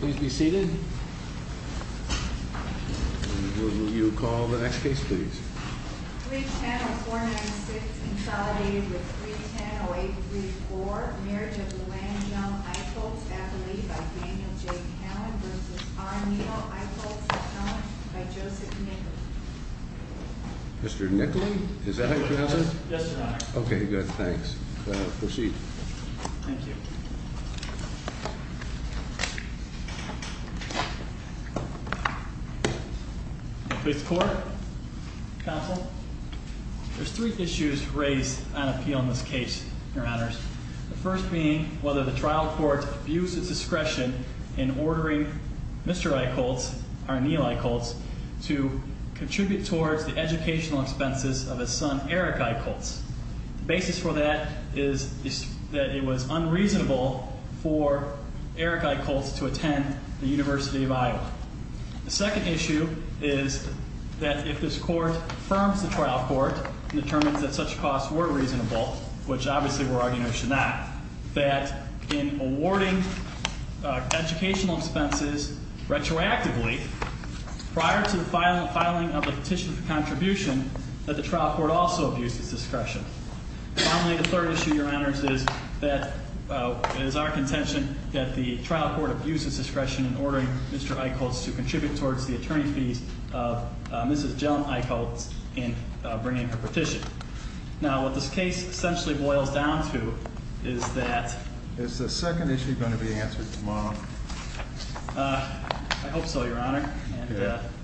Please be seated. You call the next case, please. Mr. Nickley? Is that how you pronounce it? Okay, good. Thanks. Proceed. Please be seated. Fifth Court, Counsel. There's three issues raised on appeal in this case, Your Honors. The first being whether the trial court views its discretion in ordering Mr. Eickholtz, or Neal Eickholtz, to contribute towards the educational expenses of his son, Eric Eickholtz. The basis for that is that it was unreasonable for Eric Eickholtz to attend the University of Iowa. The second issue is that if this court affirms the trial court and determines that such costs were reasonable, which obviously we're arguing they should not, that in awarding educational expenses retroactively, prior to the filing of the petition for contribution, that the trial court also views its discretion. Finally, the third issue, Your Honors, is that it is our contention that the trial court views its discretion in ordering Mr. Eickholtz to contribute towards the attorney fees of Mrs. Jelm-Eickholtz in bringing her petition. Now, what this case essentially boils down to is that Is the second issue going to be answered tomorrow? I hope so, Your Honor.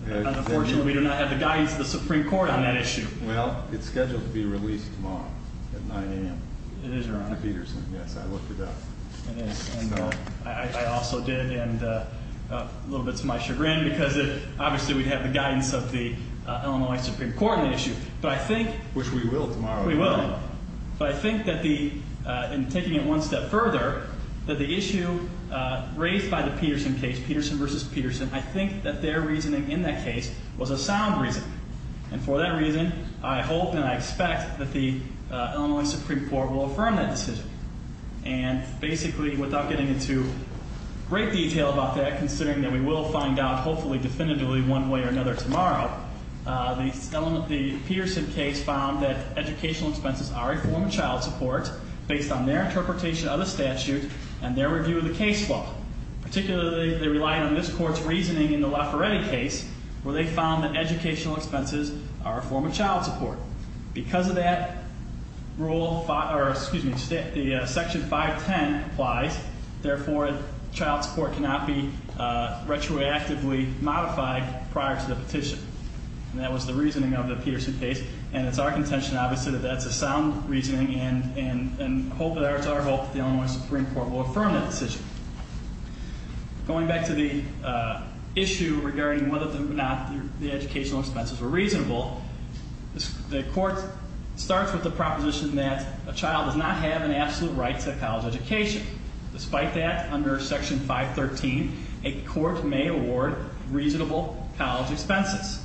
Unfortunately, we do not have the guidance of the Supreme Court on that issue. Well, it's scheduled to be released tomorrow at 9 a.m. It is, Your Honor. To Peterson. Yes, I looked it up. It is, and I also did, and a little bit to my chagrin, because obviously we'd have the guidance of the Illinois Supreme Court on the issue. But I think Which we will tomorrow We will. But I think that the, in taking it one step further, that the issue raised by the Peterson case, Peterson v. Peterson, I think that their reasoning in that case was a sound reasoning. And for that reason, I hope and I expect that the Illinois Supreme Court will affirm that decision. And basically, without getting into great detail about that, considering that we will find out hopefully definitively one way or another tomorrow, the Peterson case found that educational expenses are a form of child support based on their interpretation of the statute and their review of the case law. Particularly, they relied on this court's reasoning in the Lafferetti case, where they found that educational expenses are a form of child support. Because of that rule, or excuse me, the section 510 applies. Therefore, child support cannot be retroactively modified prior to the petition. And that was the reasoning of the Peterson case. And it's our contention, obviously, that that's a sound reasoning. And it's our hope that the Illinois Supreme Court will affirm that decision. Going back to the issue regarding whether or not the educational expenses were reasonable, the court starts with the proposition that a child does not have an absolute right to a college education. Despite that, under section 513, a court may award reasonable college expenses.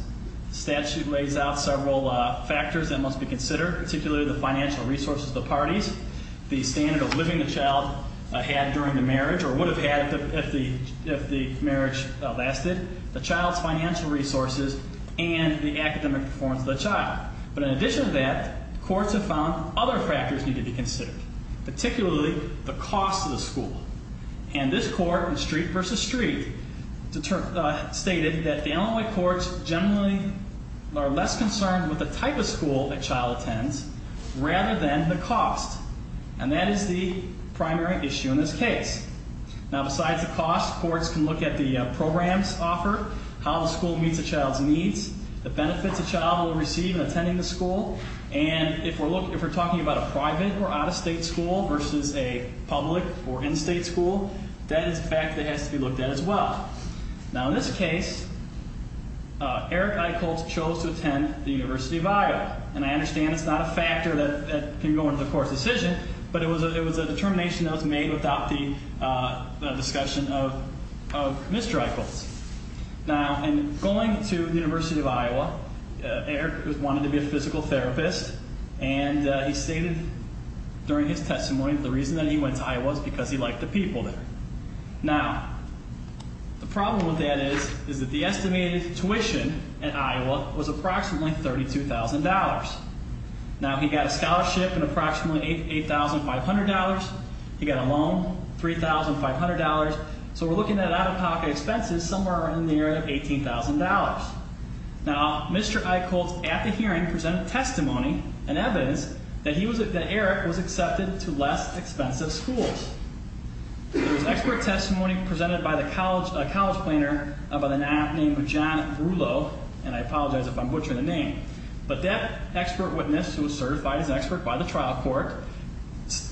The statute lays out several factors that must be considered, particularly the financial resources of the parties, the standard of living the child had during the marriage or would have had if the marriage lasted, the child's financial resources, and the academic performance of the child. But in addition to that, courts have found other factors need to be considered, particularly the cost of the school. And this court in Street v. Street stated that the Illinois courts generally are less concerned with the type of school a child attends rather than the cost. And that is the primary issue in this case. Now, besides the cost, courts can look at the programs offered, how the school meets a child's needs, the benefits a child will receive in attending the school. And if we're talking about a private or out-of-state school versus a public or in-state school, that is a fact that has to be looked at as well. Now, in this case, Eric Eichholz chose to attend the University of Iowa. And I understand it's not a factor that can go into the court's decision, but it was a determination that was made without the discussion of Mr. Eichholz. Now, in going to the University of Iowa, Eric wanted to be a physical therapist, and he stated during his testimony the reason that he went to Iowa is because he liked the people there. Now, the problem with that is that the estimated tuition at Iowa was approximately $32,000. Now, he got a scholarship at approximately $8,500. He got a loan, $3,500. So we're looking at out-of-pocket expenses somewhere in the area of $18,000. Now, Mr. Eichholz at the hearing presented testimony and evidence that Eric was accepted to less expensive schools. There was expert testimony presented by a college planner by the name of John Brullo, and I apologize if I'm butchering the name. But that expert witness, who was certified as an expert by the trial court,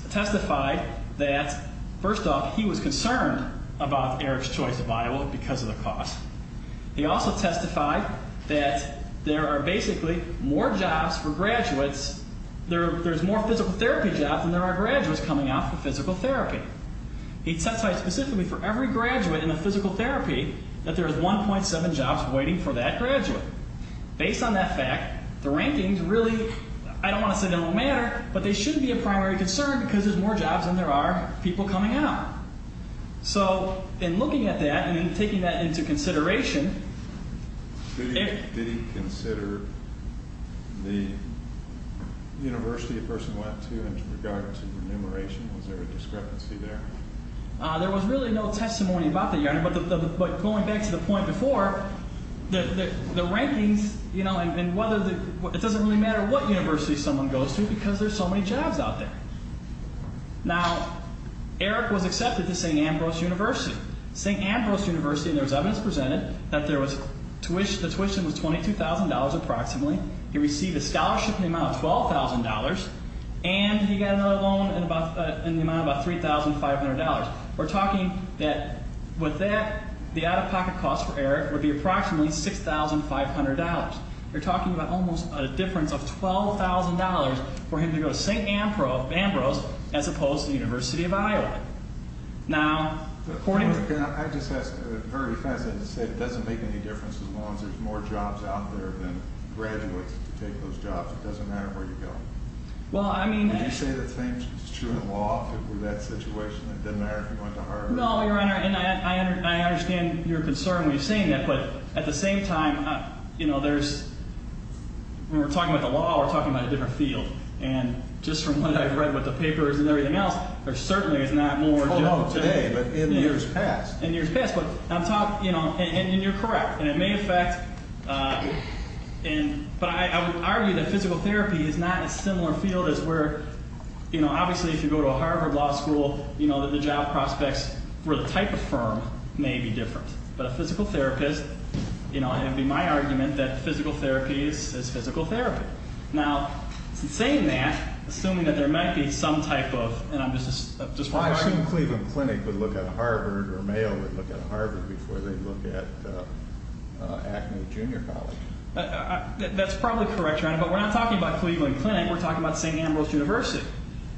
testified that, first off, he was concerned about Eric's choice of Iowa because of the cost. He also testified that there are basically more jobs for graduates, there's more physical therapy jobs than there are graduates coming out for physical therapy. He testified specifically for every graduate in the physical therapy that there is 1.7 jobs waiting for that graduate. Based on that fact, the rankings really, I don't want to say they don't matter, but they shouldn't be a primary concern because there's more jobs than there are people coming out. So in looking at that and in taking that into consideration, Did he consider the university the person went to in regard to remuneration? Was there a discrepancy there? There was really no testimony about that, Your Honor, but going back to the point before, the rankings, you know, it doesn't really matter what university someone goes to because there's so many jobs out there. Now, Eric was accepted to St. Ambrose University. There was evidence presented that the tuition was $22,000 approximately. He received a scholarship in the amount of $12,000, and he got another loan in the amount of about $3,500. We're talking that with that, the out-of-pocket cost for Eric would be approximately $6,500. You're talking about almost a difference of $12,000 for him to go to St. Ambrose as opposed to the University of Iowa. Now, according to— I just have a very fast thing to say. It doesn't make any difference as long as there's more jobs out there than graduates who take those jobs. It doesn't matter where you go. Well, I mean— Would you say the same is true in law if it were that situation? It doesn't matter if you went to Harvard? No, Your Honor, and I understand your concern when you're saying that, but at the same time, you know, there's—when we're talking about the law, we're talking about a different field, and just from what I've read with the papers and everything else, there certainly is not more— Oh, no, today, but in years past. In years past, but I'm talking—and you're correct, and it may affect— but I would argue that physical therapy is not a similar field as where— obviously, if you go to a Harvard Law School, the job prospects for the type of firm may be different, but a physical therapist—it would be my argument that physical therapy is physical therapy. Now, saying that, assuming that there might be some type of—and I'm just— Why shouldn't Cleveland Clinic look at Harvard or Mayo look at Harvard before they look at Acme Junior College? That's probably correct, Your Honor, but we're not talking about Cleveland Clinic. We're talking about St. Ambrose University,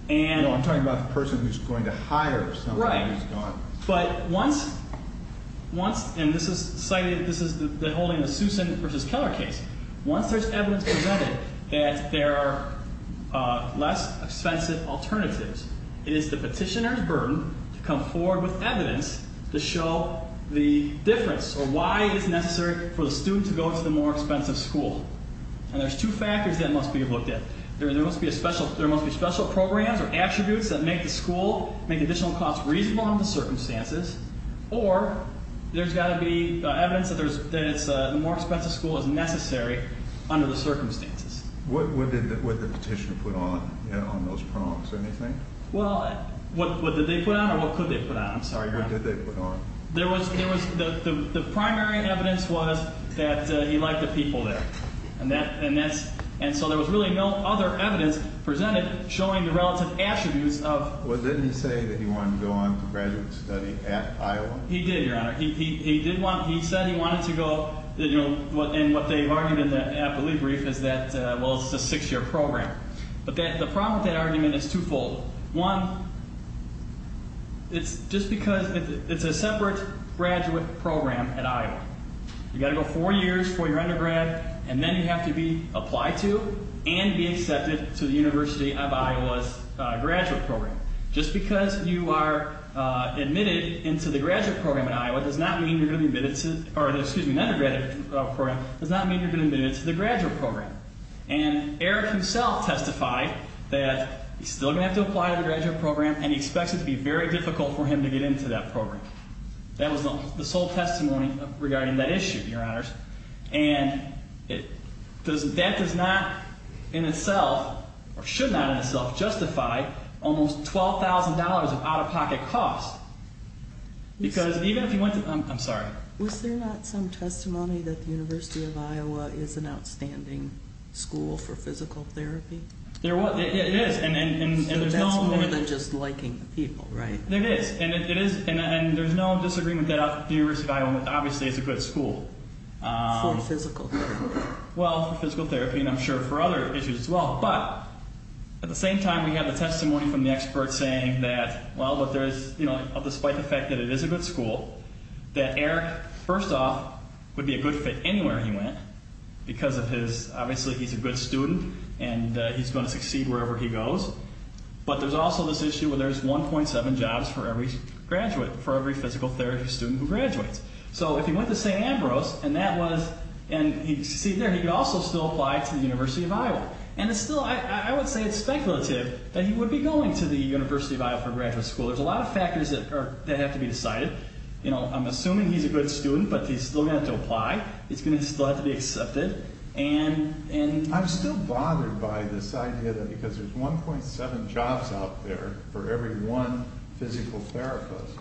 and— No, I'm talking about the person who's going to hire somebody who's gone. Right, but once—and this is cited—this is the holding of the Susan v. Keller case. Once there's evidence presented that there are less expensive alternatives, it is the petitioner's burden to come forward with evidence to show the difference or why it's necessary for the student to go to the more expensive school, and there's two factors that must be looked at. There must be special programs or attributes that make the school— make additional costs reasonable under the circumstances, or there's got to be evidence that the more expensive school is necessary under the circumstances. What did the petitioner put on, you know, on those prompts? Anything? Well, what did they put on or what could they put on? I'm sorry, Your Honor. What did they put on? There was—the primary evidence was that he liked the people there, and that's—and so there was really no other evidence presented showing the relative attributes of— Well, didn't he say that he wanted to go on to graduate study at Iowa? He did, Your Honor. He did want—he said he wanted to go, you know, and what they've argued in the appellee brief is that, well, it's a six-year program. But the problem with that argument is twofold. One, it's just because it's a separate graduate program at Iowa. You've got to go four years for your undergrad, and then you have to be applied to and be accepted to the University of Iowa's graduate program. Just because you are admitted into the graduate program at Iowa does not mean you're going to be admitted to— or, excuse me, an undergraduate program does not mean you're going to be admitted to the graduate program. And Eric himself testified that he's still going to have to apply to the graduate program, and he expects it to be very difficult for him to get into that program. That was the sole testimony regarding that issue, Your Honors. And that does not in itself, or should not in itself, justify almost $12,000 of out-of-pocket costs. Because even if you went to—I'm sorry. Was there not some testimony that the University of Iowa is an outstanding school for physical therapy? It is, and there's no— So that's more than just liking the people, right? It is, and there's no disagreement that the University of Iowa obviously is a good school. For physical therapy. Well, for physical therapy, and I'm sure for other issues as well. But at the same time, we have the testimony from the experts saying that, well, but there's—you know, despite the fact that it is a good school, that Eric, first off, would be a good fit anywhere he went because of his— obviously he's a good student, and he's going to succeed wherever he goes. But there's also this issue where there's 1.7 jobs for every graduate, for every physical therapy student who graduates. So if he went to St. Ambrose, and that was—and he succeeded there, he could also still apply to the University of Iowa. And it's still—I would say it's speculative that he would be going to the University of Iowa for graduate school. There's a lot of factors that have to be decided. You know, I'm assuming he's a good student, but he's still going to have to apply. He's going to still have to be accepted, and— I'm still bothered by this idea that because there's 1.7 jobs out there for every one physical therapist.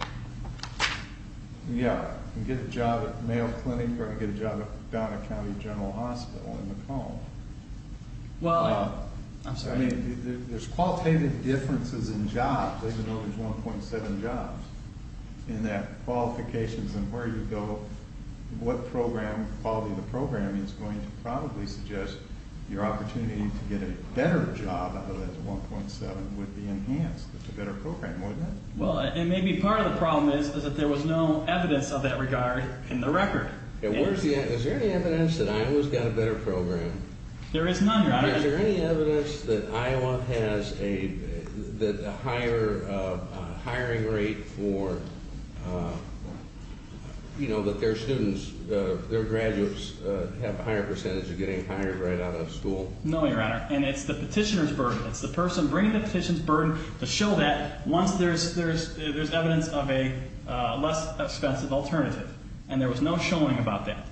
Yeah, you can get a job at Mayo Clinic, or you can get a job at Donner County General Hospital in Macomb. Well, I'm sorry. I mean, there's qualitative differences in jobs, even though there's 1.7 jobs, in that qualifications and where you go, what program, quality of the program, is going to probably suggest your opportunity to get a better job out of that 1.7 would be enhanced. It's a better program, wouldn't it? Well, and maybe part of the problem is that there was no evidence of that regard in the record. Is there any evidence that Iowa's got a better program? There is none, Your Honor. Is there any evidence that Iowa has a higher hiring rate for, you know, that their students, their graduates have a higher percentage of getting hired right out of school? It's the person bringing the petition's burden to show that once there's evidence of a less expensive alternative. And there was no showing about that.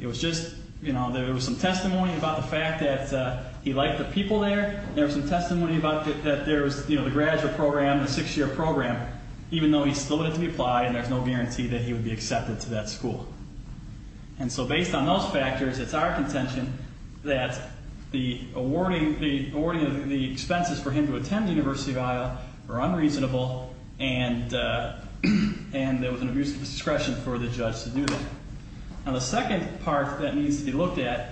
It was just, you know, there was some testimony about the fact that he liked the people there. There was some testimony about that there was, you know, the graduate program, the six-year program, even though he still needed to be applied and there's no guarantee that he would be accepted to that school. And so based on those factors, it's our contention that the awarding of the expenses for him to attend University of Iowa were unreasonable and there was an abuse of discretion for the judge to do that. Now the second part that needs to be looked at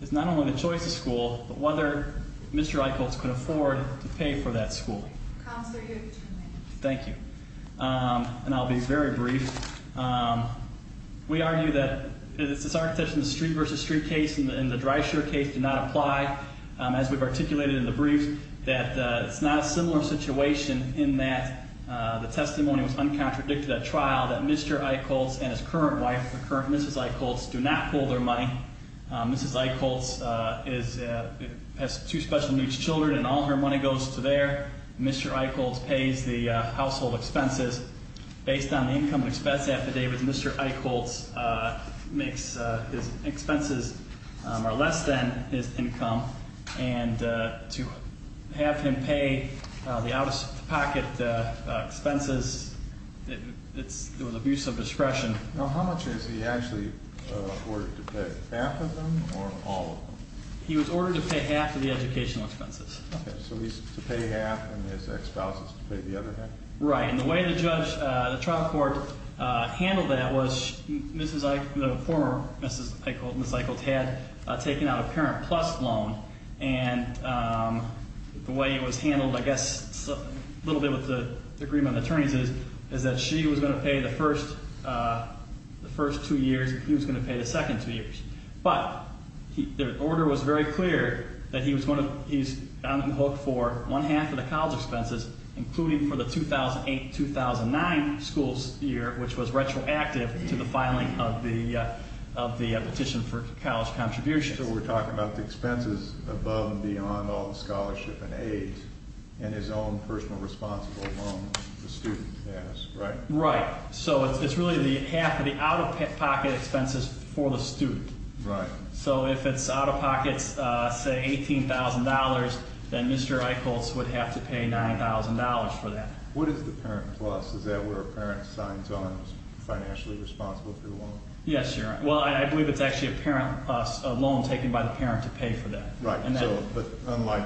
is not only the choice of school, but whether Mr. Eichholz could afford to pay for that school. Counselor, you have two minutes. Thank you. And I'll be very brief. We argue that it's our contention that the street-versus-street case and the dry-sure case do not apply. As we've articulated in the brief, that it's not a similar situation in that the testimony was uncontradicted at trial that Mr. Eichholz and his current wife, the current Mrs. Eichholz, do not hold their money. Mrs. Eichholz has two special needs children and all her money goes to there. Mr. Eichholz pays the household expenses. Based on the income and expense affidavit, Mr. Eichholz makes his expenses less than his income. And to have him pay the out-of-pocket expenses, it was abuse of discretion. Now how much is he actually awarded to pay? Half of them or all of them? He was ordered to pay half of the educational expenses. Okay. So he's to pay half and his ex-spouse is to pay the other half? Right. And the way the trial court handled that was the former Mrs. Eichholz had taken out a parent-plus loan. And the way it was handled, I guess, a little bit with the agreement of attorneys, is that she was going to pay the first two years and he was going to pay the second two years. But the order was very clear that he's on the hook for one half of the college expenses, including for the 2008-2009 school year, which was retroactive to the filing of the petition for college contributions. So we're talking about the expenses above and beyond all the scholarship and aid, and his own personal responsible loan the student has, right? Right. So it's really half of the out-of-pocket expenses for the student. Right. So if it's out-of-pocket, say, $18,000, then Mr. Eichholz would have to pay $9,000 for that. What is the parent-plus? Is that where a parent signs on as financially responsible for the loan? Yes, Your Honor. Well, I believe it's actually a parent-plus loan taken by the parent to pay for that. Right. But unlike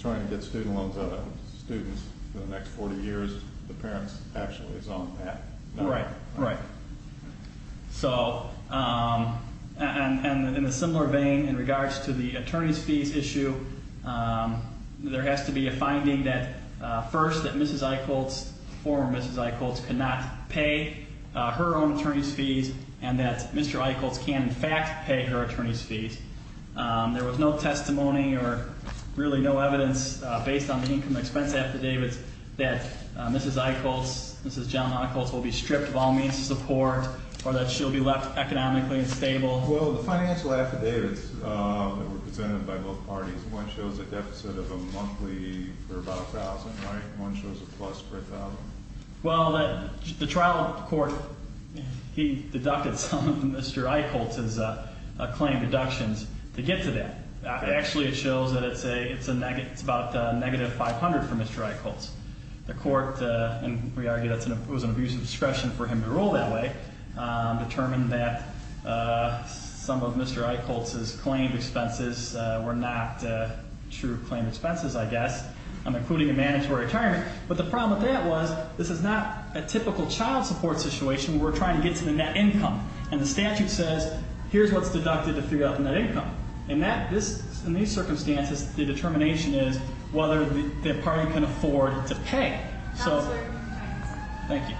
trying to get student loans out of students for the next 40 years, the parent actually is on that. Right. Right. So in a similar vein, in regards to the attorney's fees issue, there has to be a finding that first that Mrs. Eichholz, former Mrs. Eichholz, cannot pay her own attorney's fees and that Mr. Eichholz can, in fact, pay her attorney's fees. There was no testimony or really no evidence based on the income expense affidavits that Mrs. Eichholz, Mrs. John Eichholz, will be stripped of all means of support or that she'll be left economically unstable. Well, the financial affidavits that were presented by both parties, one shows a deficit of a monthly for about $1,000, right? Well, the trial court, he deducted some of Mr. Eichholz's claim deductions to get to that. Actually, it shows that it's about negative $500 for Mr. Eichholz. The court, and we argue that it was an abuse of discretion for him to rule that way, determined that some of Mr. Eichholz's claimed expenses were not true claimed expenses, I guess, including a mandatory retirement. But the problem with that was this is not a typical child support situation where we're trying to get to the net income. And the statute says, here's what's deducted to figure out the net income. In these circumstances, the determination is whether the party can afford to pay. So, thank you.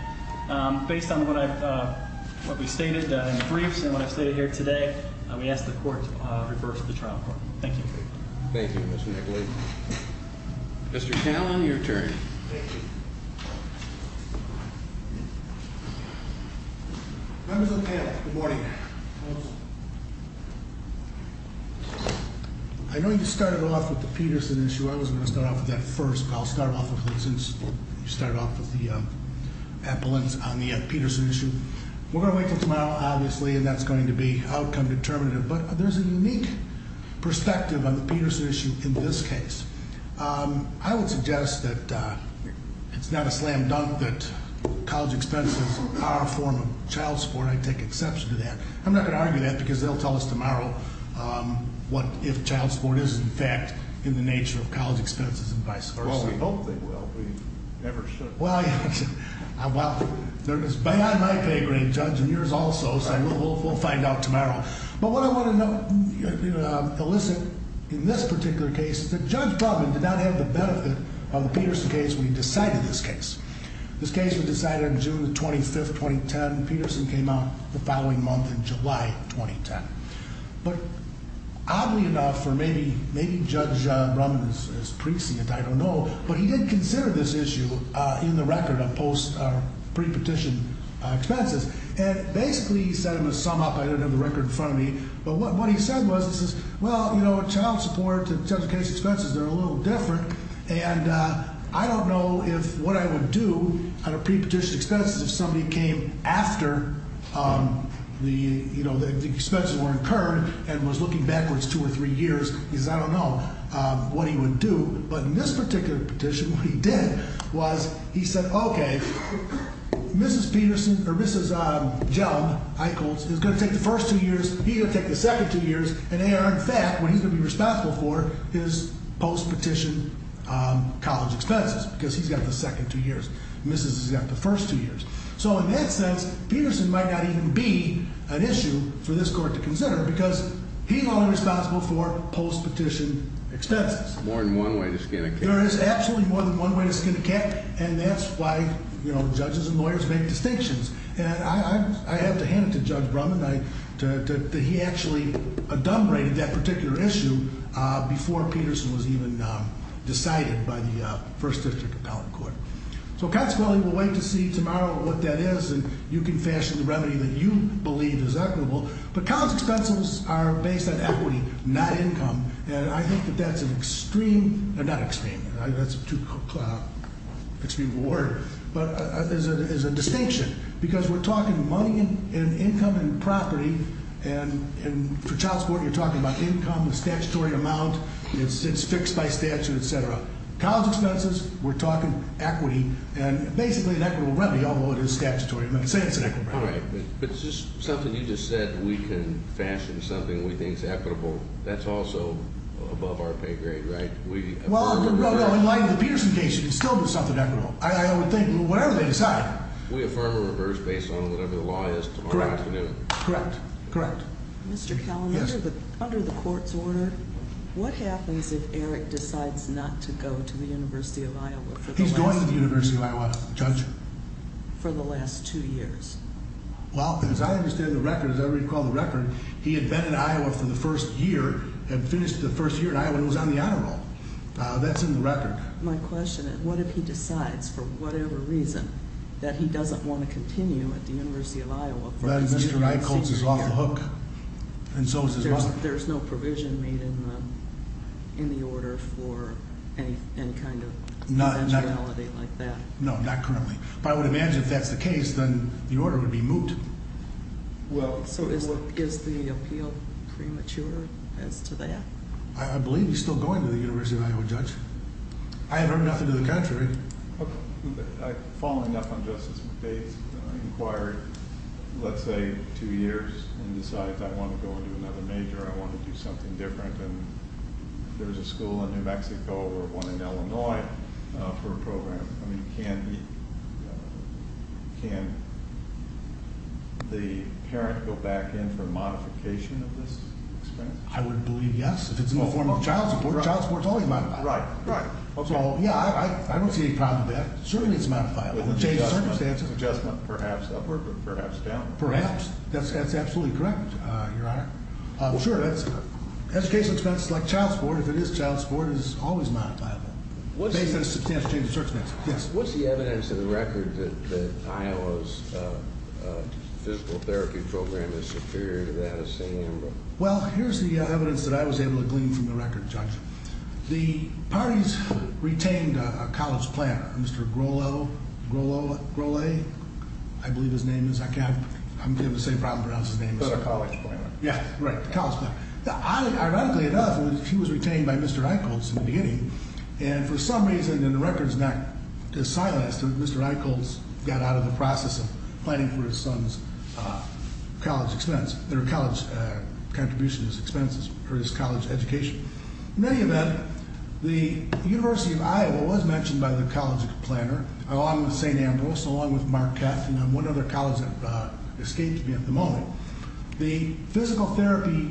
Based on what we stated in the briefs and what I've stated here today, we ask the court to reverse the trial court. Thank you. Thank you, Mr. Eichholz. Mr. Callan, your turn. Thank you. Members of the panel, good morning. Hello, sir. I know you started off with the Peterson issue. I was going to start off with that first, but I'll start off with it since you started off with the ambulance on the Peterson issue. We're going to wait until tomorrow, obviously, and that's going to be outcome determinative. But there's a unique perspective on the Peterson issue in this case. I would suggest that it's not a slam dunk that college expenses are a form of child support. I take exception to that. I'm not going to argue that because they'll tell us tomorrow what if child support is, in fact, in the nature of college expenses and vice versa. Well, we hope they will. We never should. Well, there is beyond my pay grade, Judge, and yours also, so we'll find out tomorrow. But what I want to elicit in this particular case is that Judge Brumman did not have the benefit of the Peterson case when he decided this case. This case was decided on June 25th, 2010. Peterson came out the following month in July 2010. But oddly enough, or maybe Judge Brumman is precinct, I don't know, but he did consider this issue in the record of pre-petition expenses and basically set him a sum up. I don't have the record in front of me. But what he said was, he says, well, you know, child support and child support case expenses, they're a little different. And I don't know if what I would do on a pre-petition expenses if somebody came after the, you know, the expenses were incurred and was looking backwards two or three years. He says, I don't know what he would do. But in this particular petition, what he did was he said, okay, Mrs. Peterson or Mrs. Jellom-Eichholz is going to take the first two years, he's going to take the second two years, and they are, in fact, what he's going to be responsible for is post-petition college expenses because he's got the second two years. Mrs. has got the first two years. So in that sense, Peterson might not even be an issue for this court to consider because he's only responsible for post-petition expenses. More than one way to skin a cat. There is absolutely more than one way to skin a cat, and that's why, you know, judges and lawyers make distinctions. And I have to hand it to Judge Brumman that he actually adumbrated that particular issue before Peterson was even decided by the First District Appellate Court. So consequently, we'll wait to see tomorrow what that is, and you can fashion the remedy that you believe is equitable. But college expenses are based on equity, not income, and I think that that's an extreme, not extreme, that's too extreme of a word, but is a distinction because we're talking money and income and property, and for child support, you're talking about income, statutory amount, it's fixed by statute, etc. College expenses, we're talking equity, and basically an equitable remedy, although it is statutory. I'm not saying it's an equitable remedy. All right, but it's just something you just said, we can fashion something we think is equitable. That's also above our pay grade, right? Well, no, in light of the Peterson case, it would still be something equitable. I would think whatever they decide. We affirm or reverse based on whatever the law is tomorrow afternoon. Correct. Correct. Mr. Kalamata, under the court's order, what happens if Eric decides not to go to the University of Iowa for the last two years? He's going to the University of Iowa, Judge. For the last two years? Well, as I understand the record, as I recall the record, he had been in Iowa for the first year and finished the first year in Iowa and was on the honor roll. That's in the record. My question is, what if he decides for whatever reason that he doesn't want to continue at the University of Iowa for the rest of his senior year? Then Mr. Rycoltz is off the hook, and so is his mother. There's no provision made in the order for any kind of eventuality like that? No, not currently. But I would imagine if that's the case, then the order would be moot. So is the appeal premature as to that? I believe he's still going to the University of Iowa, Judge. I have heard nothing to the contrary. Following up on Justice McBathe's inquiry, let's say two years and decides, I want to go and do another major, I want to do something different. And there's a school in New Mexico or one in Illinois for a program. I mean, can the parent go back in for a modification of this experience? I would believe yes, if it's in the form of a child support. Child support's always my priority. Right, right. So, yeah, I don't see any problem with that. Certainly it's modifiable. It would change circumstances. Adjustment, perhaps upward, but perhaps downward. Perhaps. That's absolutely correct, Your Honor. Sure. Education expenses like child support, if it is child support, is always modifiable. Based on the substantial change of circumstances. Yes. What's the evidence in the record that Iowa's physical therapy program is superior to that of St. Ambrose? Well, here's the evidence that I was able to glean from the record, Judge. The parties retained a college planner, Mr. Grole, I believe his name is. I'm having the same problem pronouncing his name. But a college planner. Yeah, right, a college planner. Now, ironically enough, he was retained by Mr. Eichholz in the beginning, and for some reason in the record does not silence that Mr. Eichholz got out of the process of planning for his son's college expense, their college contribution expenses for his college education. In any event, the University of Iowa was mentioned by the college planner, along with St. Ambrose, along with Marquette, and one other college that escaped me at the moment. The physical therapy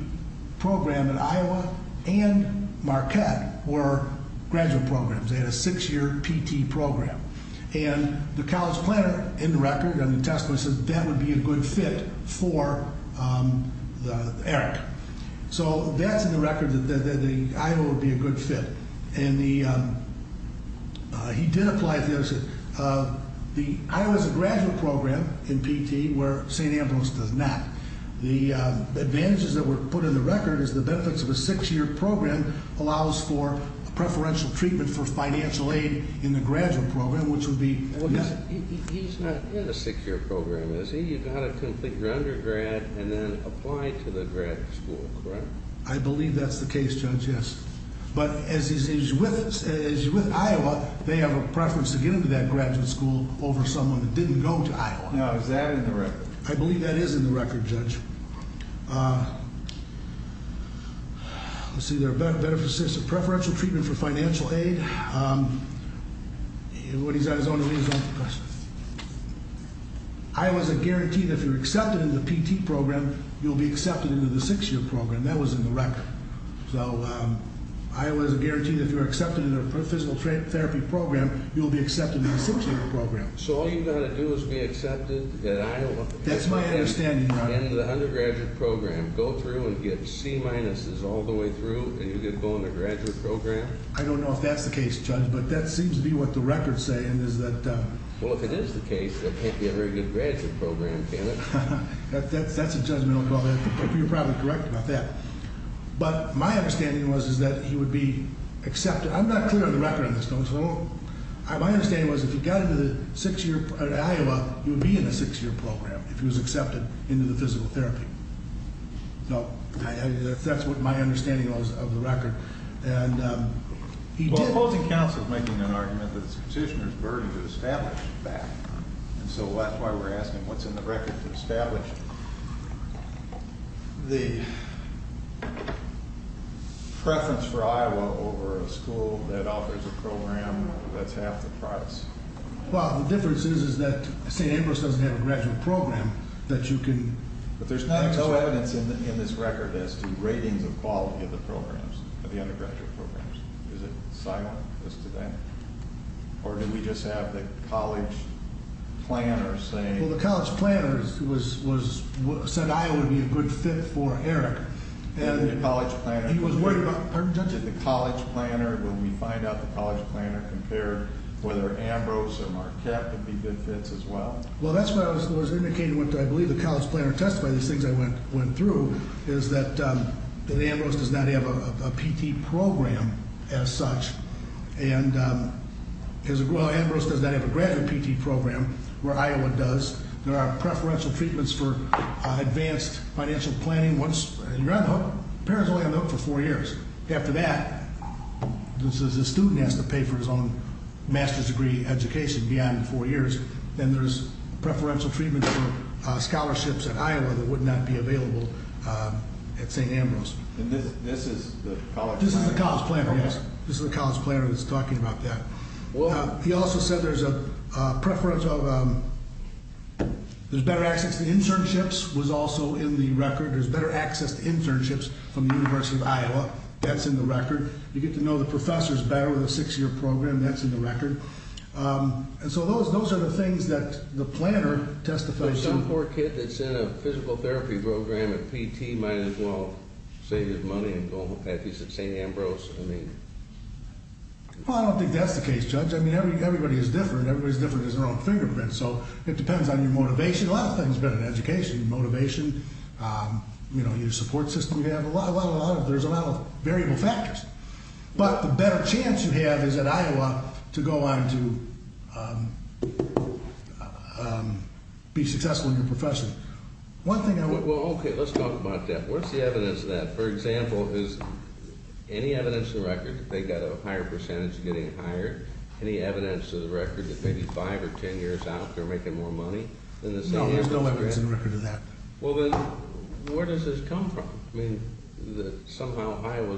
program at Iowa and Marquette were graduate programs. They had a six-year PT program. And the college planner in the record, in the testimony, said that would be a good fit for Eric. So that's in the record that the Iowa would be a good fit. And he did apply. The Iowa has a graduate program in PT where St. Ambrose does not. The advantages that were put in the record is the benefits of a six-year program allows for preferential treatment for financial aid in the graduate program, which would be— He's not in a six-year program, is he? You've got to complete your undergrad and then apply to the graduate school, correct? I believe that's the case, Judge, yes. But as he's with Iowa, they have a preference to get into that graduate school over someone that didn't go to Iowa. Now, is that in the record? I believe that is in the record, Judge. Let's see. There are benefits of preferential treatment for financial aid. I was a guarantee that if you're accepted into the PT program, you'll be accepted into the six-year program. That was in the record. So Iowa is a guarantee that if you're accepted into a physical therapy program, you'll be accepted into the six-year program. So all you've got to do is be accepted at Iowa— That's my understanding, Your Honor. —into the undergraduate program, go through and get C-minuses all the way through, and you can go in the graduate program? I don't know if that's the case, Judge, but that seems to be what the records say. Well, if it is the case, there can't be a very good graduate program, can it? That's a judgmental call. You're probably correct about that. But my understanding was that he would be accepted—I'm not clear on the record on this, Judge. My understanding was if he got into Iowa, he would be in a six-year program if he was accepted into the physical therapy. That's what my understanding was of the record. Well, opposing counsel is making an argument that it's a petitioner's burden to establish that, and so that's why we're asking what's in the record to establish the preference for Iowa over a school that offers a program that's half the price. Well, the difference is that St. Ambrose doesn't have a graduate program that you can— But there's not enough evidence in this record as to ratings of quality of the programs, of the undergraduate programs. Is it silent as to that, or did we just have the college planner saying— Well, the college planner said Iowa would be a good fit for Eric. And the college planner— He was worried about—pardon, Judge? And the college planner, when we find out, the college planner compared whether Ambrose or Marquette would be good fits as well. Well, that's what I was indicating, what I believe the college planner testified, these things I went through, is that Ambrose does not have a PT program as such, and— Well, Ambrose does not have a graduate PT program where Iowa does. There are preferential treatments for advanced financial planning once you're on the hook. The parent's only on the hook for four years. After that, the student has to pay for his own master's degree education beyond the four years. Then there's preferential treatment for scholarships at Iowa that would not be available at St. Ambrose. And this is the college planner? This is the college planner, yes. This is the college planner who's talking about that. He also said there's a preference of—there's better access to internships was also in the record. There's better access to internships from the University of Iowa. That's in the record. You get to know the professors better with a six-year program. That's in the record. And so those are the things that the planner testified to. Some poor kid that's in a physical therapy program at PT might as well save his money and go home. If he's at St. Ambrose, I mean— Well, I don't think that's the case, Judge. I mean, everybody is different. Everybody's different in their own fingerprint. So it depends on your motivation. A lot of things are better in education. Your motivation, you know, your support system. There's a lot of variable factors. But the better chance you have is at Iowa to go on to be successful in your profession. One thing I would— Well, okay. Let's talk about that. What's the evidence of that? For example, is any evidence in the record that they got a higher percentage of getting hired? Any evidence in the record that maybe five or ten years out, they're making more money? No, there's no evidence in the record of that. Well, then where does this come from? I mean, somehow Iowa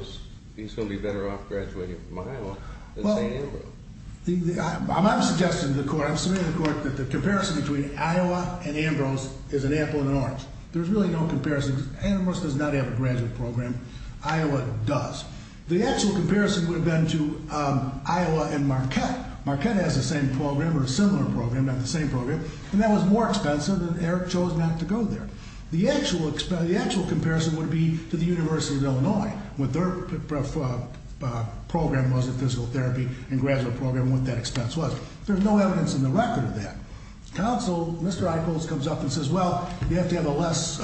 is going to be better off graduating from Iowa than St. Ambrose. Well, I'm suggesting to the court, I'm submitting to the court that the comparison between Iowa and Ambrose is an apple and an orange. There's really no comparison. Ambrose does not have a graduate program. Iowa does. The actual comparison would have been to Iowa and Marquette. Marquette has the same program or a similar program, not the same program. And that was more expensive, and Eric chose not to go there. The actual comparison would be to the University of Illinois, what their program was in physical therapy and graduate program, what that expense was. There's no evidence in the record of that. Counsel, Mr. Eichholz, comes up and says, well, you have to have a less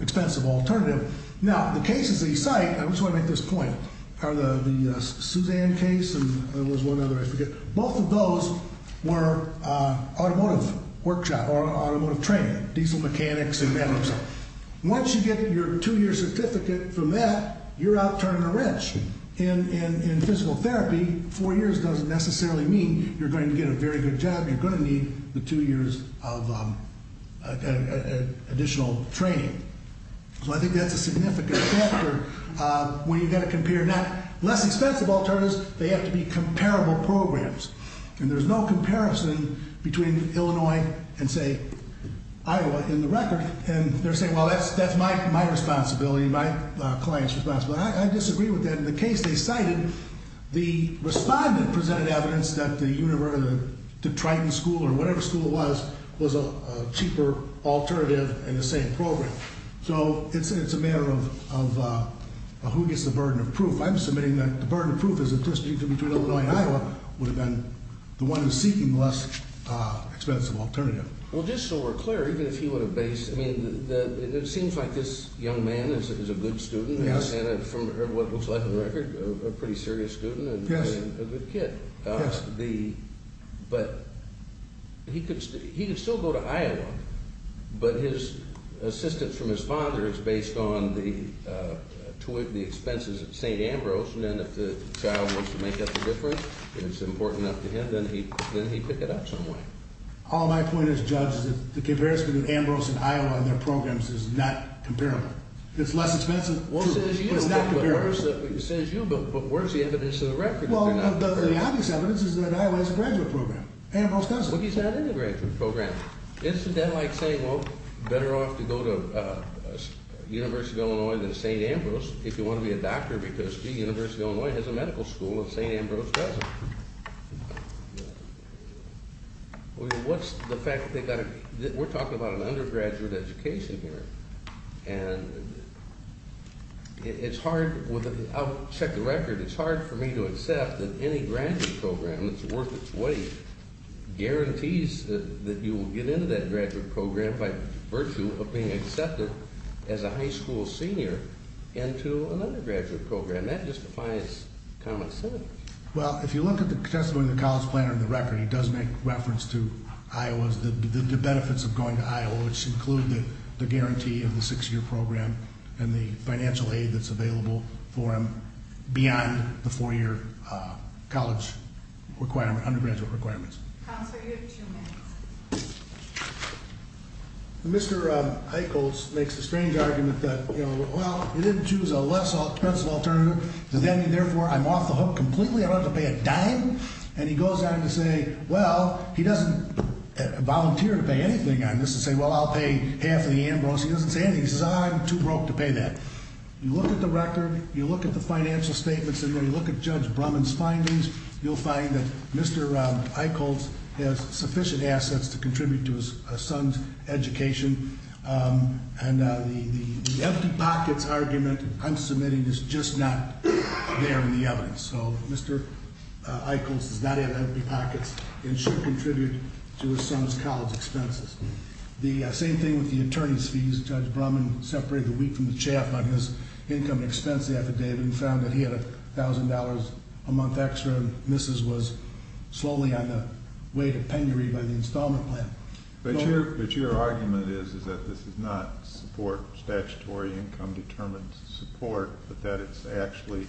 expensive alternative. Now, the cases that you cite, I just want to make this point, are the Suzanne case and there was one other, I forget. Both of those were automotive workshop or automotive training, diesel mechanics and that sort of stuff. Once you get your two-year certificate from that, you're out turning a wrench. In physical therapy, four years doesn't necessarily mean you're going to get a very good job. You're going to need the two years of additional training. So I think that's a significant factor when you've got to compare not less expensive alternatives, they have to be comparable programs. And there's no comparison between Illinois and, say, Iowa in the record. And they're saying, well, that's my responsibility, my client's responsibility. I disagree with that. And in the case they cited, the respondent presented evidence that the university, the Triton School or whatever school it was, was a cheaper alternative in the same program. So it's a matter of who gets the burden of proof. I'm submitting that the burden of proof is that the district between Illinois and Iowa would have been the one who's seeking the less expensive alternative. Well, just so we're clear, even if he would have based, I mean, it seems like this young man is a good student. Yes. And from what it looks like on the record, a pretty serious student and a good kid. Yes. But he could still go to Iowa, but his assistance from his father is based on the expenses at St. Ambrose. And then if the child wants to make up the difference, if it's important enough to him, then he'd pick it up some way. All my point is, Judge, is that the comparison between Ambrose and Iowa and their programs is not comparable. It's less expensive, too, but it's not comparable. Well, it says you, but where's the evidence of the record? Well, the obvious evidence is that Iowa has a graduate program. Ambrose doesn't. But he's not in the graduate program. Isn't that like saying, well, better off to go to University of Illinois than St. Ambrose if you want to be a doctor, because, gee, University of Illinois has a medical school and St. Ambrose doesn't. We're talking about an undergraduate education here, and it's hard. I'll check the record. It's hard for me to accept that any graduate program that's worth its weight guarantees that you will get into that graduate program by virtue of being accepted as a high school senior into an undergraduate program. That just defies common sense. Well, if you look at the testimony of the college planner and the record, he does make reference to Iowa's benefits of going to Iowa, which include the guarantee of the six-year program and the financial aid that's available for him beyond the four-year college requirement, undergraduate requirements. Counselor, you have two minutes. Mr. Eichholz makes the strange argument that, well, he didn't choose a less expensive alternative. Does that mean, therefore, I'm off the hook completely? I don't have to pay a dime? And he goes on to say, well, he doesn't volunteer to pay anything on this and say, well, I'll pay half of the Ambrose. He doesn't say anything. He says, I'm too broke to pay that. You look at the record. You look at the financial statements in there. You look at Judge Brumman's findings. You'll find that Mr. Eichholz has sufficient assets to contribute to his son's education. And the empty pockets argument I'm submitting is just not there in the evidence. So Mr. Eichholz does not have empty pockets and should contribute to his son's college expenses. The same thing with the attorney's fees. Judge Brumman separated the wheat from the chaff on his income expense affidavit and found that he had $1,000 a month extra and Mrs. was slowly on the way to penury by the installment plan. But your argument is that this is not support, statutory income determined support, but that it's actually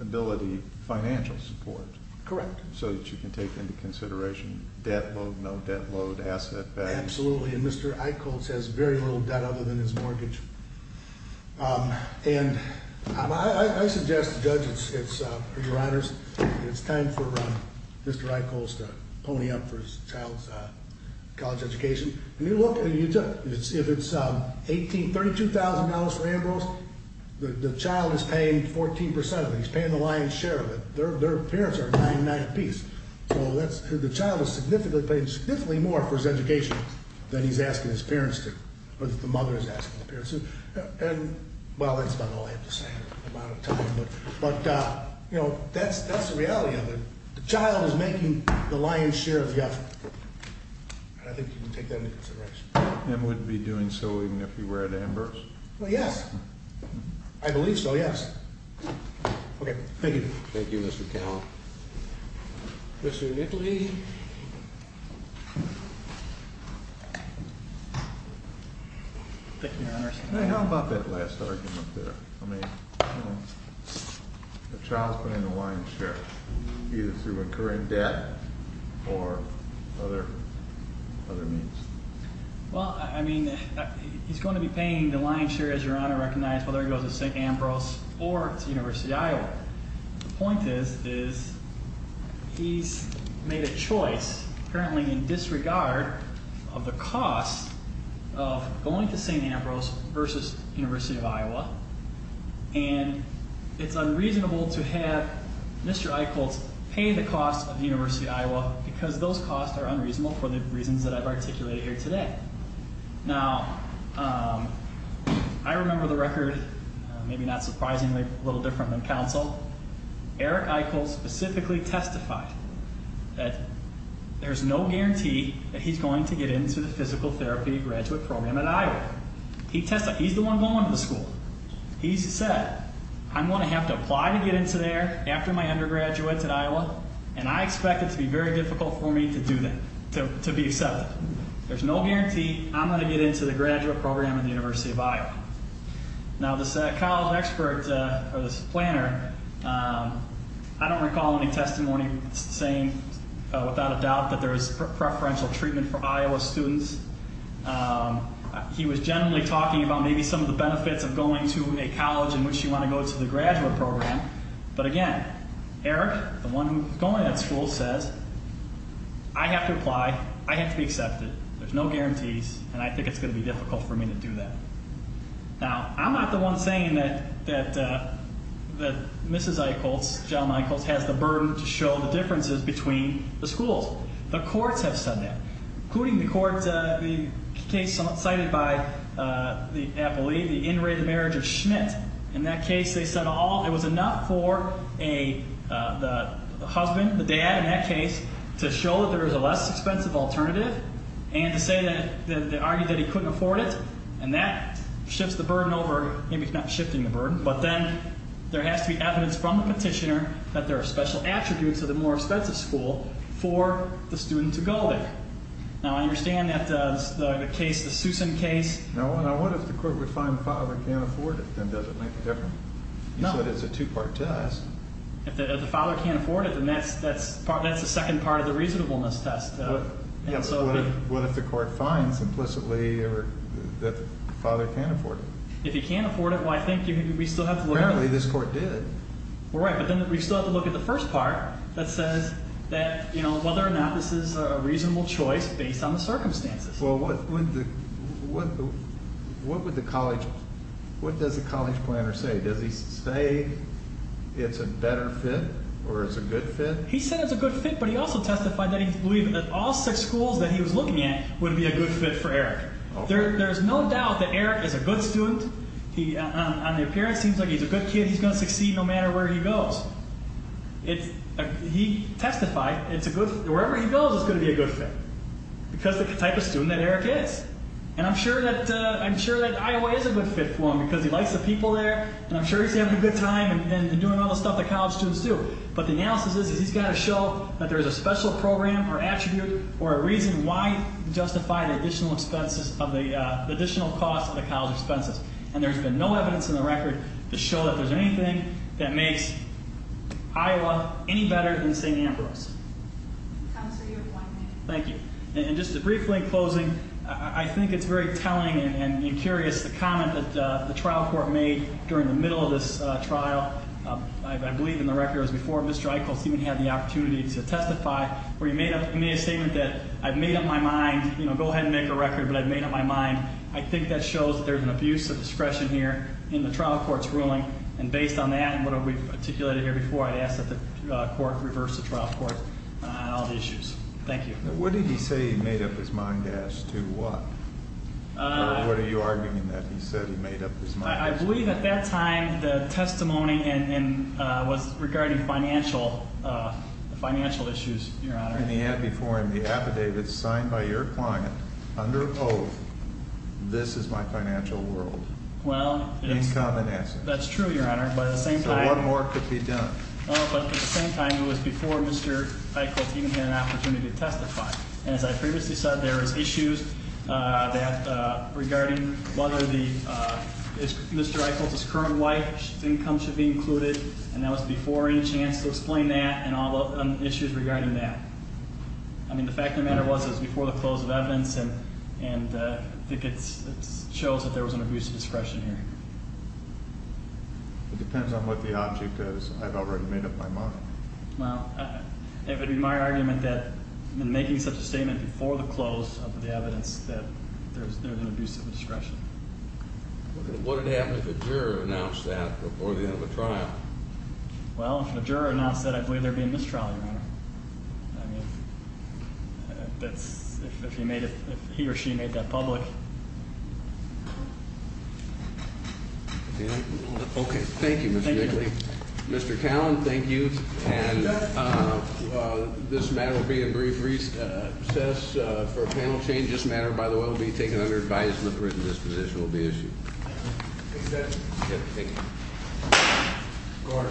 ability financial support. Correct. So that you can take into consideration debt load, no debt load, asset values. Absolutely. And Mr. Eichholz has very little debt other than his mortgage. And I suggest, Judge, it's time for Mr. Eichholz to pony up for his child's college education. If it's $32,000 for Ambrose, the child is paying 14% of it. He's paying the lion's share of it. Their parents are at nine and nine apiece. So the child is paying significantly more for his education than he's asking his parents to, or that the mother is asking the parents to. And, well, that's about all I have to say. I'm out of time. But, you know, that's the reality of it. The child is making the lion's share of the effort. And I think you can take that into consideration. And would be doing so even if you were at Ambrose? Well, yes. I believe so, yes. Okay. Thank you. Thank you, Mr. Cowell. Mr. Nickley. Thank you, Your Honor. How about that last argument there? I mean, you know, the child is paying the lion's share, either through recurring debt or other means. Well, I mean, he's going to be paying the lion's share, as Your Honor recognized, whether he goes to St. Ambrose or to University of Iowa. The point is, is he's made a choice currently in disregard of the cost of going to St. Ambrose versus University of Iowa. And it's unreasonable to have Mr. Eichholz pay the cost of the University of Iowa because those costs are unreasonable for the reasons that I've articulated here today. Now, I remember the record, maybe not surprisingly, a little different than counsel. Eric Eichholz specifically testified that there's no guarantee that he's going to get into the physical therapy graduate program at Iowa. He testified. He's the one going to the school. He said, I'm going to have to apply to get into there after my undergraduate at Iowa, and I expect it to be very difficult for me to do that, to be accepted. There's no guarantee I'm going to get into the graduate program at the University of Iowa. Now, this college expert, or this planner, I don't recall any testimony saying without a doubt that there's preferential treatment for Iowa students. He was generally talking about maybe some of the benefits of going to a college in which you want to go to the graduate program. But again, Eric, the one who's going to that school, says, I have to apply. I have to be accepted. There's no guarantees, and I think it's going to be difficult for me to do that. Now, I'm not the one saying that Mrs. Eichholz, John Eichholz, has the burden to show the differences between the schools. The courts have said that, including the court, the case cited by the appellee, the in-rate marriage of Schmidt. In that case, they said it was enough for the husband, the dad in that case, to show that there was a less expensive alternative and to say that they argued that he couldn't afford it, and that shifts the burden over. Maybe it's not shifting the burden, but then there has to be evidence from the petitioner that there are special attributes of the more expensive school for the student to go there. Now, I understand that the case, the Susan case. Now, what if the court would find the father can't afford it, then does it make a difference? You said it's a two-part test. If the father can't afford it, then that's the second part of the reasonableness test. What if the court finds implicitly that the father can't afford it? If he can't afford it, well, I think we still have to look at it. Apparently, this court did. Well, right, but then we still have to look at the first part that says that, you know, whether or not this is a reasonable choice based on the circumstances. Well, what would the college, what does the college planner say? Does he say it's a better fit or it's a good fit? He said it's a good fit, but he also testified that he believed that all six schools that he was looking at would be a good fit for Eric. There's no doubt that Eric is a good student. On the appearance, he seems like he's a good kid. He's going to succeed no matter where he goes. He testified it's a good, wherever he goes, it's going to be a good fit because of the type of student that Eric is. And I'm sure that Iowa is a good fit for him because he likes the people there and I'm sure he's having a good time and doing all the stuff that college students do. But the analysis is he's got to show that there's a special program or attribute or a reason why he justified the additional expenses of the, the additional cost of the college expenses. And there's been no evidence in the record to show that there's anything that makes Iowa any better than St. Ambrose. Counselor, you have one minute. Thank you. And just briefly in closing, I think it's very telling and curious, the comment that the trial court made during the middle of this trial. I believe in the record it was before Mr. Eichholz even had the opportunity to testify where he made a statement that, I've made up my mind, you know, go ahead and make a record, but I've made up my mind. I think that shows that there's an abuse of discretion here in the trial court's ruling. And based on that and what we've articulated here before, I'd ask that the court reverse the trial court on all the issues. Thank you. What did he say he made up his mind as to what? Or what are you arguing in that he said he made up his mind? I believe at that time the testimony was regarding financial issues, Your Honor. And he had before him the affidavit signed by your client under oath, this is my financial world. Well, that's true, Your Honor. So one more could be done. No, but at the same time it was before Mr. Eichholz even had an opportunity to testify. And as I previously said, there was issues regarding whether Mr. Eichholz's current wife's income should be included, and that was before any chance to explain that and all the issues regarding that. I mean, the fact of the matter was it was before the close of evidence, and I think it shows that there was an abuse of discretion here. It depends on what the object is. I've already made up my mind. Well, it would be my argument that in making such a statement before the close of the evidence that there was an abuse of discretion. What would happen if a juror announced that before the end of the trial? Well, if a juror announced that, I believe there would be a mistrial, Your Honor. I mean, if he or she made that public. Okay. Thank you, Mr. Daly. Mr. Callan, thank you. And this matter will be a brief recess for a panel change. This matter, by the way, will be taken under advice and the written disposition will be issued. Thank you, sir. Thank you. Thank you. Court.